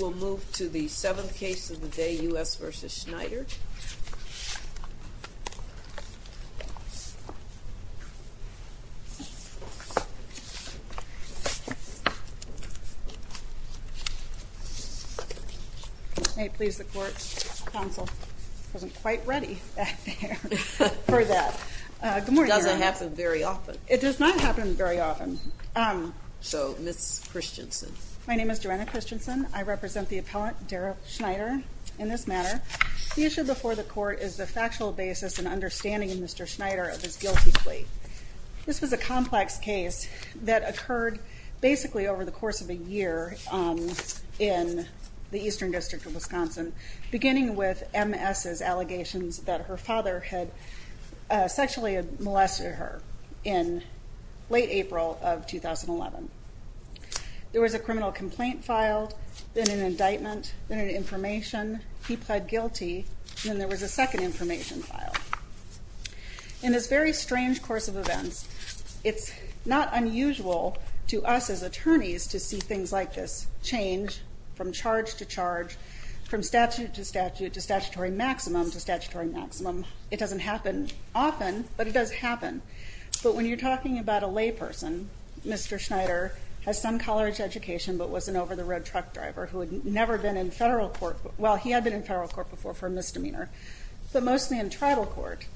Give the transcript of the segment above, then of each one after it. We'll move to the seventh case of the day, U.S. v. Schneider. May it please the court, counsel. I wasn't quite ready back there for that. Good morning, Your Honor. It doesn't happen very often. It does not happen very often. So, Ms. Christensen. My name is Joanna Christensen. I represent the appellant, Darrell Schneider, in this matter. The issue before the court is the factual basis and understanding of Mr. Schneider of his guilty plea. This was a complex case that occurred basically over the course of a year in the Eastern District of Wisconsin, beginning with Ms.'s allegations that her father had sexually molested her in late April of 2011. There was a criminal complaint filed, then an indictment, then an information. He pled guilty, and then there was a second information file. In this very strange course of events, it's not unusual to us as attorneys to see things like this change from charge to charge, from statute to statute, to statutory maximum to statutory maximum. It doesn't happen often, but it does happen. But when you're talking about a layperson, Mr. Schneider has some college education, but was an over-the-road truck driver who had never been in federal court. Well, he had been in federal court before for a misdemeanor, but mostly in tribal court.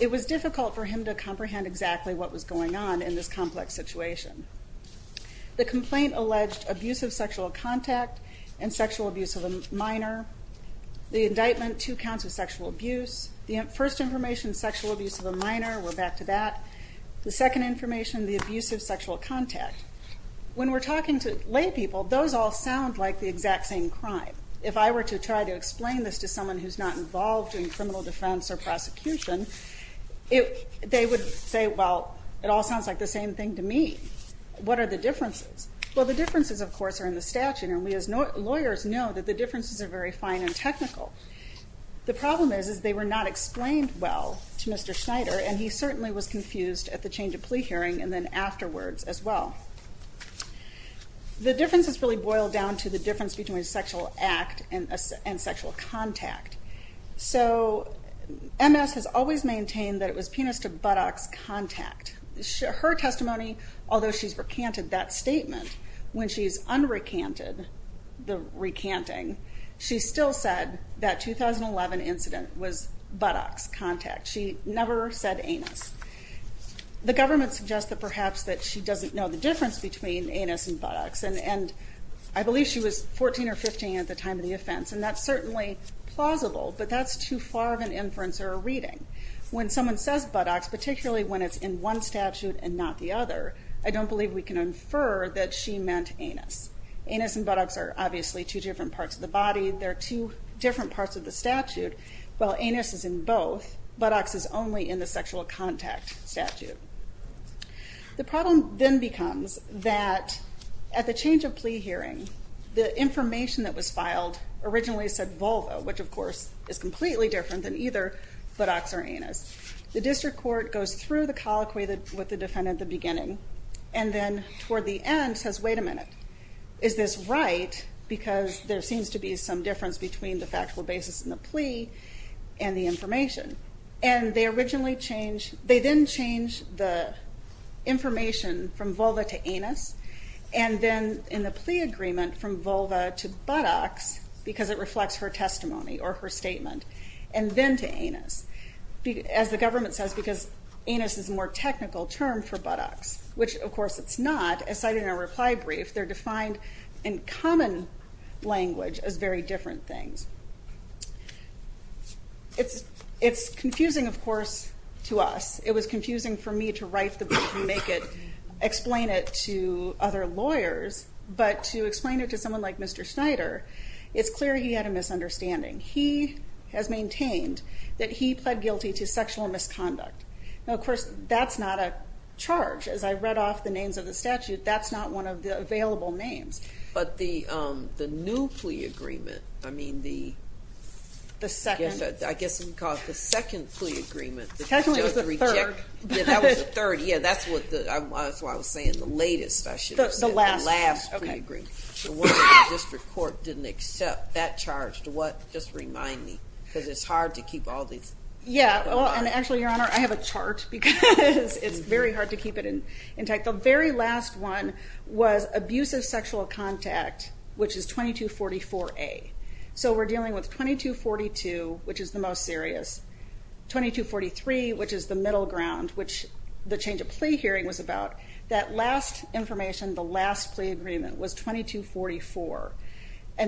It was difficult for him to comprehend exactly what was going on in this complex situation. The complaint alleged abuse of sexual contact and sexual abuse of a minor. The indictment, two counts of sexual abuse. The first information, sexual abuse of a minor. We're back to that. The second information, the abuse of sexual contact. When we're talking to laypeople, those all sound like the exact same crime. If I were to try to explain this to someone who's not involved in criminal defense or prosecution, they would say, well, it all sounds like the same thing to me. What are the differences? Well, the differences, of course, are in the statute, and we as lawyers know that the differences are very fine and technical. The problem is they were not explained well to Mr. Schneider, and he certainly was confused at the change of plea hearing and then afterwards as well. The differences really boil down to the difference between sexual act and sexual contact. So MS has always maintained that it was penis to buttocks contact. Her testimony, although she's recanted that statement, when she's unrecanted the recanting, she still said that 2011 incident was buttocks contact. She never said anus. The government suggests that perhaps that she doesn't know the difference between anus and buttocks, and I believe she was 14 or 15 at the time of the offense, and that's certainly plausible, but that's too far of an inference or a reading. When someone says buttocks, particularly when it's in one statute and not the other, I don't believe we can infer that she meant anus. Anus and buttocks are obviously two different parts of the body. They're two different parts of the statute. While anus is in both, buttocks is only in the sexual contact statute. The problem then becomes that at the change of plea hearing, the information that was filed originally said vulva, which of course is completely different than either buttocks or anus. The district court goes through the colloquy with the defendant at the beginning and then toward the end says, wait a minute, is this right? Because there seems to be some difference between the factual basis in the plea and the information. And then in the plea agreement from vulva to buttocks, because it reflects her testimony or her statement, and then to anus. As the government says, because anus is a more technical term for buttocks, which of course it's not, as cited in our reply brief, they're defined in common language as very different things. It's confusing, of course, to us. It was confusing for me to write the brief and make it, explain it to other lawyers, but to explain it to someone like Mr. Schneider, it's clear he had a misunderstanding. He has maintained that he pled guilty to sexual misconduct. Now, of course, that's not a charge. As I read off the names of the statute, that's not one of the available names. But the new plea agreement, I mean the second plea agreement, technically it was the third. Yeah, that was the third. Yeah, that's what I was saying, the latest. The last. The last plea agreement. The District Court didn't accept that charge. Just remind me, because it's hard to keep all these. Yeah, and actually, Your Honor, I have a chart because it's very hard to keep it intact. The very last one was abusive sexual contact, which is 2244A. So we're dealing with 2242, which is the most serious. 2243, which is the middle ground, which the change of plea hearing was about. That last information, the last plea agreement, was 2244.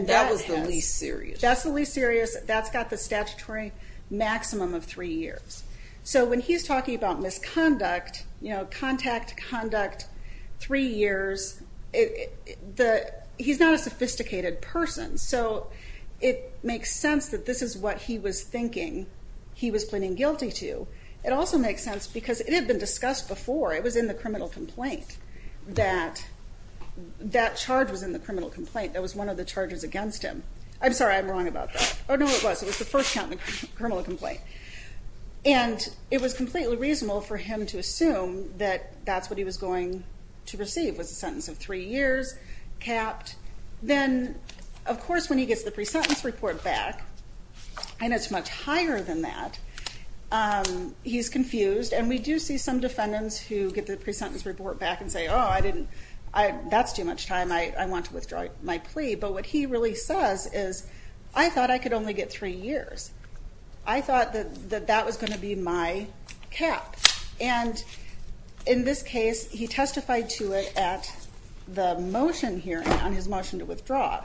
That was the least serious. That's the least serious. That's got the statutory maximum of three years. So when he's talking about misconduct, you know, contact, conduct, three years, he's not a sophisticated person. So it makes sense that this is what he was thinking he was pleading guilty to. It also makes sense because it had been discussed before. It was in the criminal complaint that that charge was in the criminal complaint. That was one of the charges against him. I'm sorry, I'm wrong about that. Oh, no, it was. It was the first count in the criminal complaint. And it was completely reasonable for him to assume that that's what he was going to receive, was a sentence of three years, capped. Then, of course, when he gets the pre-sentence report back, and it's much higher than that, he's confused. And we do see some defendants who get the pre-sentence report back and say, oh, that's too much time. I want to withdraw my plea. But what he really says is, I thought I could only get three years. I thought that that was going to be my cap. And in this case, he testified to it at the motion hearing on his motion to withdraw.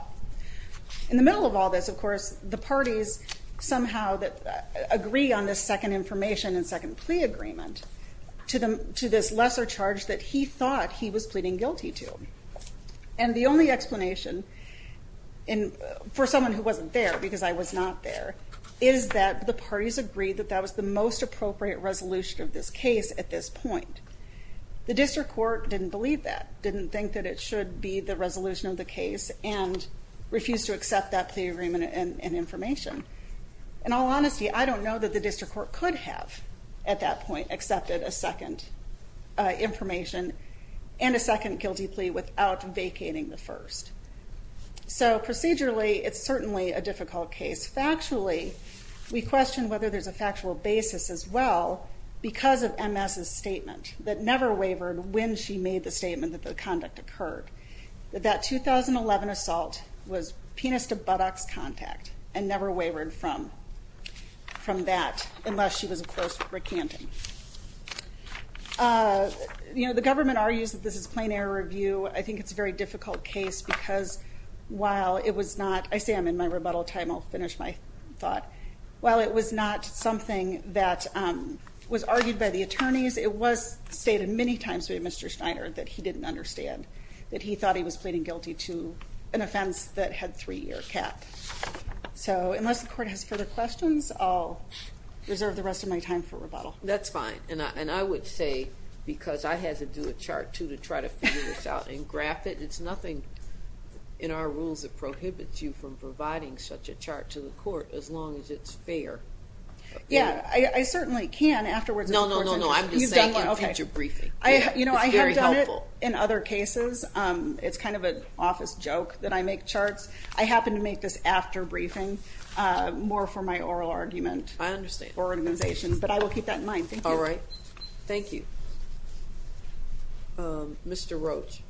In the middle of all this, of course, the parties somehow agree on this second information and second plea agreement to this lesser charge that he thought he was pleading guilty to. And the only explanation for someone who wasn't there, because I was not there, is that the parties agreed that that was the most appropriate resolution of this case at this point. The district court didn't believe that, didn't think that it should be the resolution of the case, and refused to accept that plea agreement and information. In all honesty, I don't know that the district court could have, at that point, accepted a second information and a second guilty plea without vacating the first. So procedurally, it's certainly a difficult case. Factually, we question whether there's a factual basis as well, because of MS's statement that never wavered when she made the statement that the conduct occurred. That that 2011 assault was penis-to-buttocks contact, and never wavered from that, unless she was a close recantant. The government argues that this is plain error review. I think it's a very difficult case, because while it was not, I say I'm in my rebuttal time, I'll finish my thought. While it was not something that was argued by the attorneys, it was stated many times by Mr. Schneider that he didn't understand, that he thought he was pleading guilty to an offense that had three-year cap. So unless the court has further questions, I'll reserve the rest of my time for rebuttal. That's fine. And I would say, because I had to do a chart, too, to try to figure this out and graph it, it's nothing in our rules that prohibits you from providing such a chart to the court, as long as it's fair. Yeah, I certainly can afterwards. No, no, no, no. I'm just saying you can teach a briefing. It's very helpful. You know, I have done it in other cases. It's kind of an office joke that I make charts. I happen to make this after briefing, more for my oral argument. I understand. But I will keep that in mind. Thank you. All right. Thank you. Mr. Roach.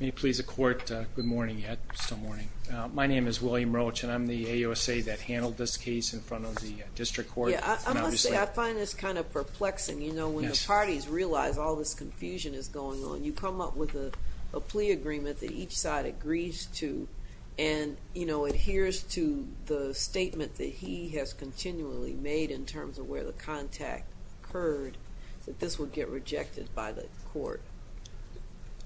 May it please the Court, good morning. Still morning. My name is William Roach, and I'm the AUSA that handled this case in front of the district court. I must say, I find this kind of perplexing, you know, when the parties realize all this confusion is going on. You come up with a plea agreement that each side agrees to and, you know, adheres to the statement that he has continually made in terms of where the contact occurred, that this would get rejected by the court.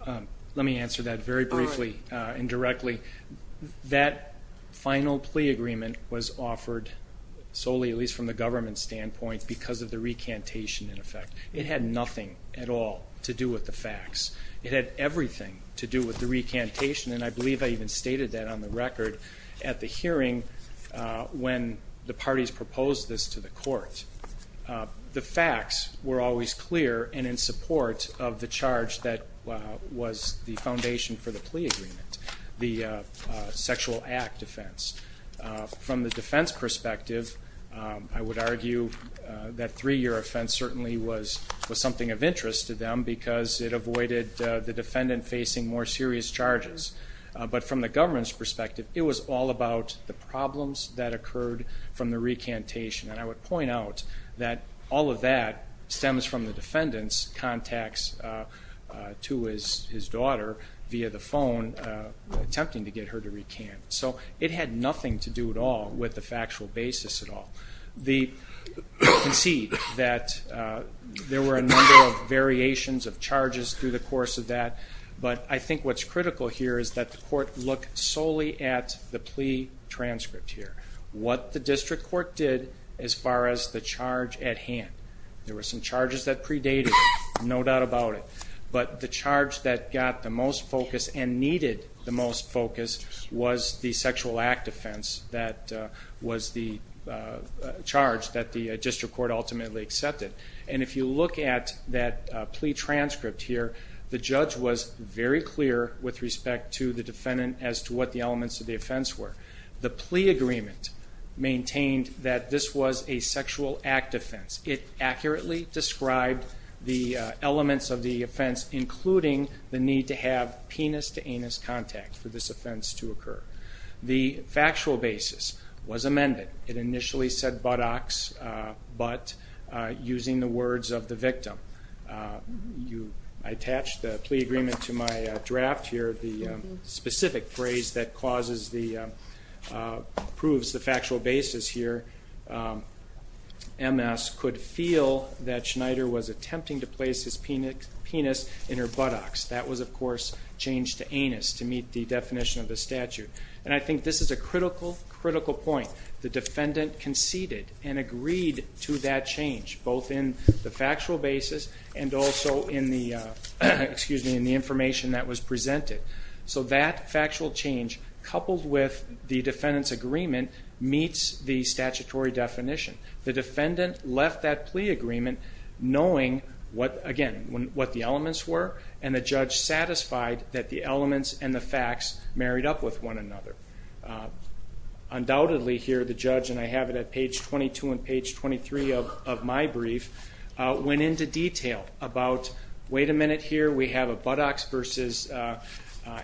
Let me answer that very briefly and directly. That final plea agreement was offered solely, at least from the government standpoint, because of the recantation, in effect. It had nothing at all to do with the facts. It had everything to do with the recantation. And I believe I even stated that on the record at the hearing when the parties proposed this to the court. The facts were always clear and in support of the charge that was the foundation for the plea agreement, the sexual act offense. From the defense perspective, I would argue that three-year offense certainly was something of interest to them because it avoided the defendant facing more serious charges. But from the government's perspective, it was all about the problems that occurred from the recantation. And I would point out that all of that stems from the defendant's contacts to his daughter via the phone, attempting to get her to recant. So it had nothing to do at all with the factual basis at all. I concede that there were a number of variations of charges through the course of that, but I think what's critical here is that the court look solely at the plea transcript here, what the district court did as far as the charge at hand. There were some charges that predated it, no doubt about it, but the charge that got the most focus and needed the most focus was the sexual act offense that was the charge that the district court ultimately accepted. And if you look at that plea transcript here, the judge was very clear with respect to the defendant as to what the elements of the offense were. The plea agreement maintained that this was a sexual act offense. It accurately described the elements of the offense, including the need to have penis-to-anus contact for this offense to occur. The factual basis was amended. It initially said buttocks, but using the words of the victim. I attached the plea agreement to my draft here. The specific phrase that proves the factual basis here, MS could feel that Schneider was attempting to place his penis in her buttocks. That was, of course, changed to anus to meet the definition of the statute. And I think this is a critical, critical point. The defendant conceded and agreed to that change both in the factual basis and also in the information that was presented. So that factual change, coupled with the defendant's agreement, meets the statutory definition. The defendant left that plea agreement knowing, again, what the elements were and the judge satisfied that the elements and the facts married up with one another. Undoubtedly here, the judge, and I have it at page 22 and page 23 of my brief, went into detail about, wait a minute here, we have a buttocks versus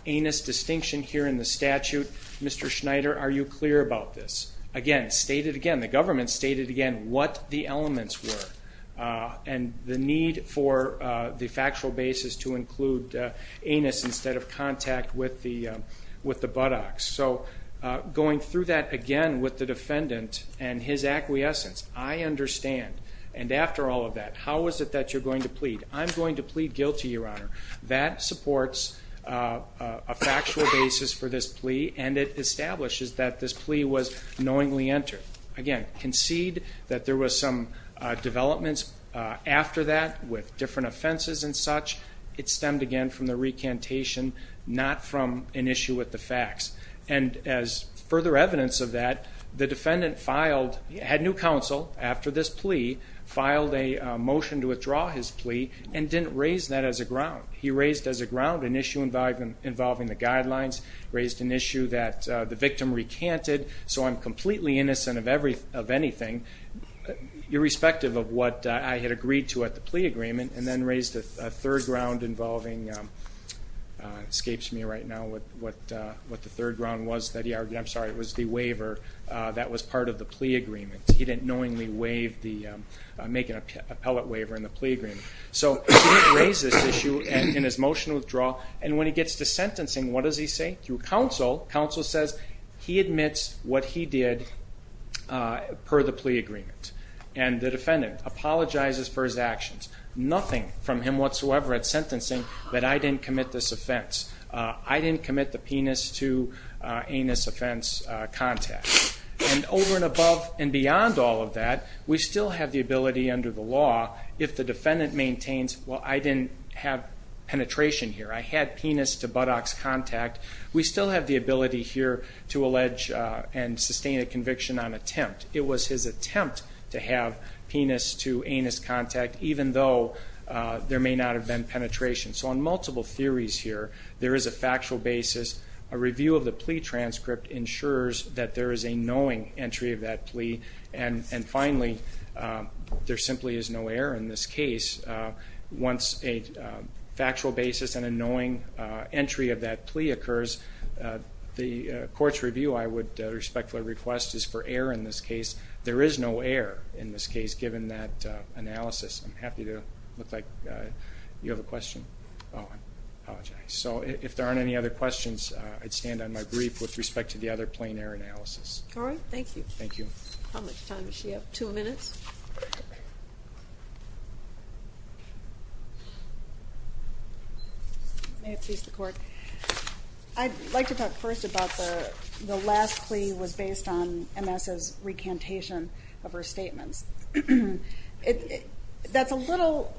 anus distinction here in the statute. Mr. Schneider, are you clear about this? Again, stated again, the government stated again what the elements were and the need for the factual basis to include anus instead of contact with the buttocks. So going through that again with the defendant and his acquiescence, I understand, and after all of that, how is it that you're going to plead? I'm going to plead guilty, Your Honor. That supports a factual basis for this plea and it establishes that this plea was knowingly entered. Again, concede that there was some developments after that with different offenses and such. It stemmed again from the recantation, not from an issue with the facts. And as further evidence of that, the defendant had new counsel after this plea, filed a motion to withdraw his plea and didn't raise that as a ground. He raised as a ground an issue involving the guidelines, raised an issue that the victim recanted, so I'm completely innocent of anything, irrespective of what I had agreed to at the plea agreement, and then raised a third ground involving the waiver that was part of the plea agreement. He didn't knowingly make an appellate waiver in the plea agreement. So he didn't raise this issue in his motion to withdraw, and when he gets to sentencing, what does he say? Through counsel. Counsel says he admits what he did per the plea agreement, and the defendant apologizes for his actions. Nothing from him whatsoever at sentencing that I didn't commit this offense. I didn't commit the penis to anus offense contact. And over and above and beyond all of that, we still have the ability under the law, if the defendant maintains, well, I didn't have penetration here. I had penis to buttocks contact. We still have the ability here to allege and sustain a conviction on attempt. It was his attempt to have penis to anus contact, even though there may not have been penetration. So on multiple theories here, there is a factual basis. A review of the plea transcript ensures that there is a knowing entry of that plea, and finally, there simply is no error in this case. Once a factual basis and a knowing entry of that plea occurs, the court's review, I would respectfully request, is for error in this case. There is no error in this case, given that analysis. I'm happy to look like you have a question. Oh, I apologize. So if there aren't any other questions, I'd stand on my brief with respect to the other plain error analysis. All right. Thank you. Thank you. How much time does she have? Two minutes? May it please the Court. I'd like to talk first about the last plea was based on MS's recantation of her statements. That's a little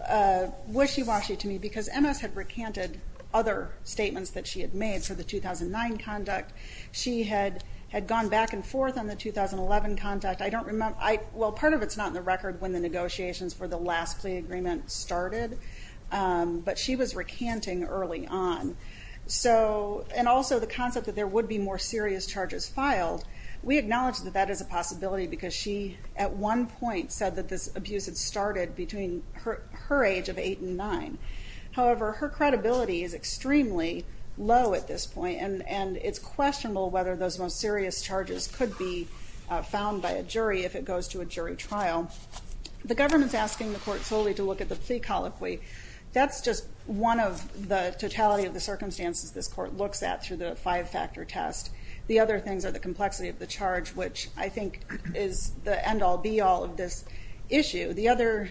wishy-washy to me because MS had recanted other statements that she had made for the 2009 conduct. She had gone back and forth on the 2011 conduct. Well, part of it's not in the record when the negotiations for the last plea agreement started, but she was recanting early on. And also the concept that there would be more serious charges filed, we acknowledge that that is a possibility because she, at one point, said that this abuse had started between her age of 8 and 9. However, her credibility is extremely low at this point, and it's questionable whether those most serious charges could be found by a jury if it goes to a jury trial. The government's asking the Court solely to look at the plea colloquy. That's just one of the totality of the circumstances this Court looks at through the five-factor test. The other things are the complexity of the charge, which I think is the end-all, be-all of this issue. The other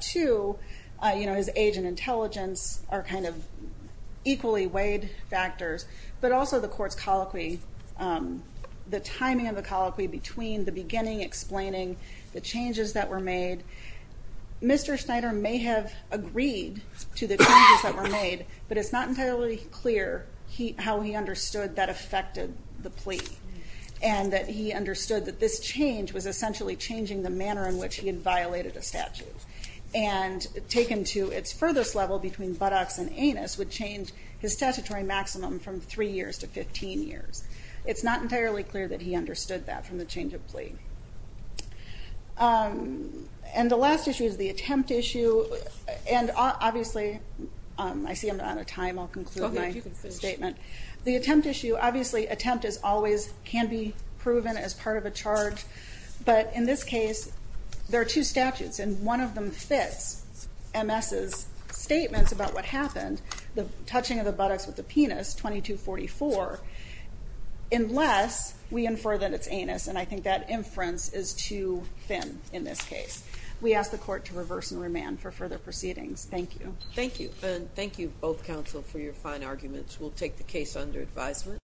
two, his age and intelligence, are kind of equally weighed factors, but also the Court's colloquy, the timing of the colloquy between the beginning explaining the changes that were made. Mr. Schneider may have agreed to the changes that were made, but it's not entirely clear how he understood that affected the plea and that he understood that this change was essentially changing the manner in which he had violated a statute and taken to its furthest level between buttocks and anus would change his statutory maximum from 3 years to 15 years. It's not entirely clear that he understood that from the change of plea. And the last issue is the attempt issue, and obviously I see I'm out of time. I'll conclude my statement. The attempt issue, obviously attempt always can be proven as part of a charge, but in this case there are two statutes and one of them fits MS's statements about what happened, the touching of the buttocks with the penis, 2244, unless we infer that it's anus, and I think that inference is too thin in this case. We ask the Court to reverse and remand for further proceedings. Thank you. Thank you. And thank you, both counsel, for your fine arguments. We'll take the case under advisement.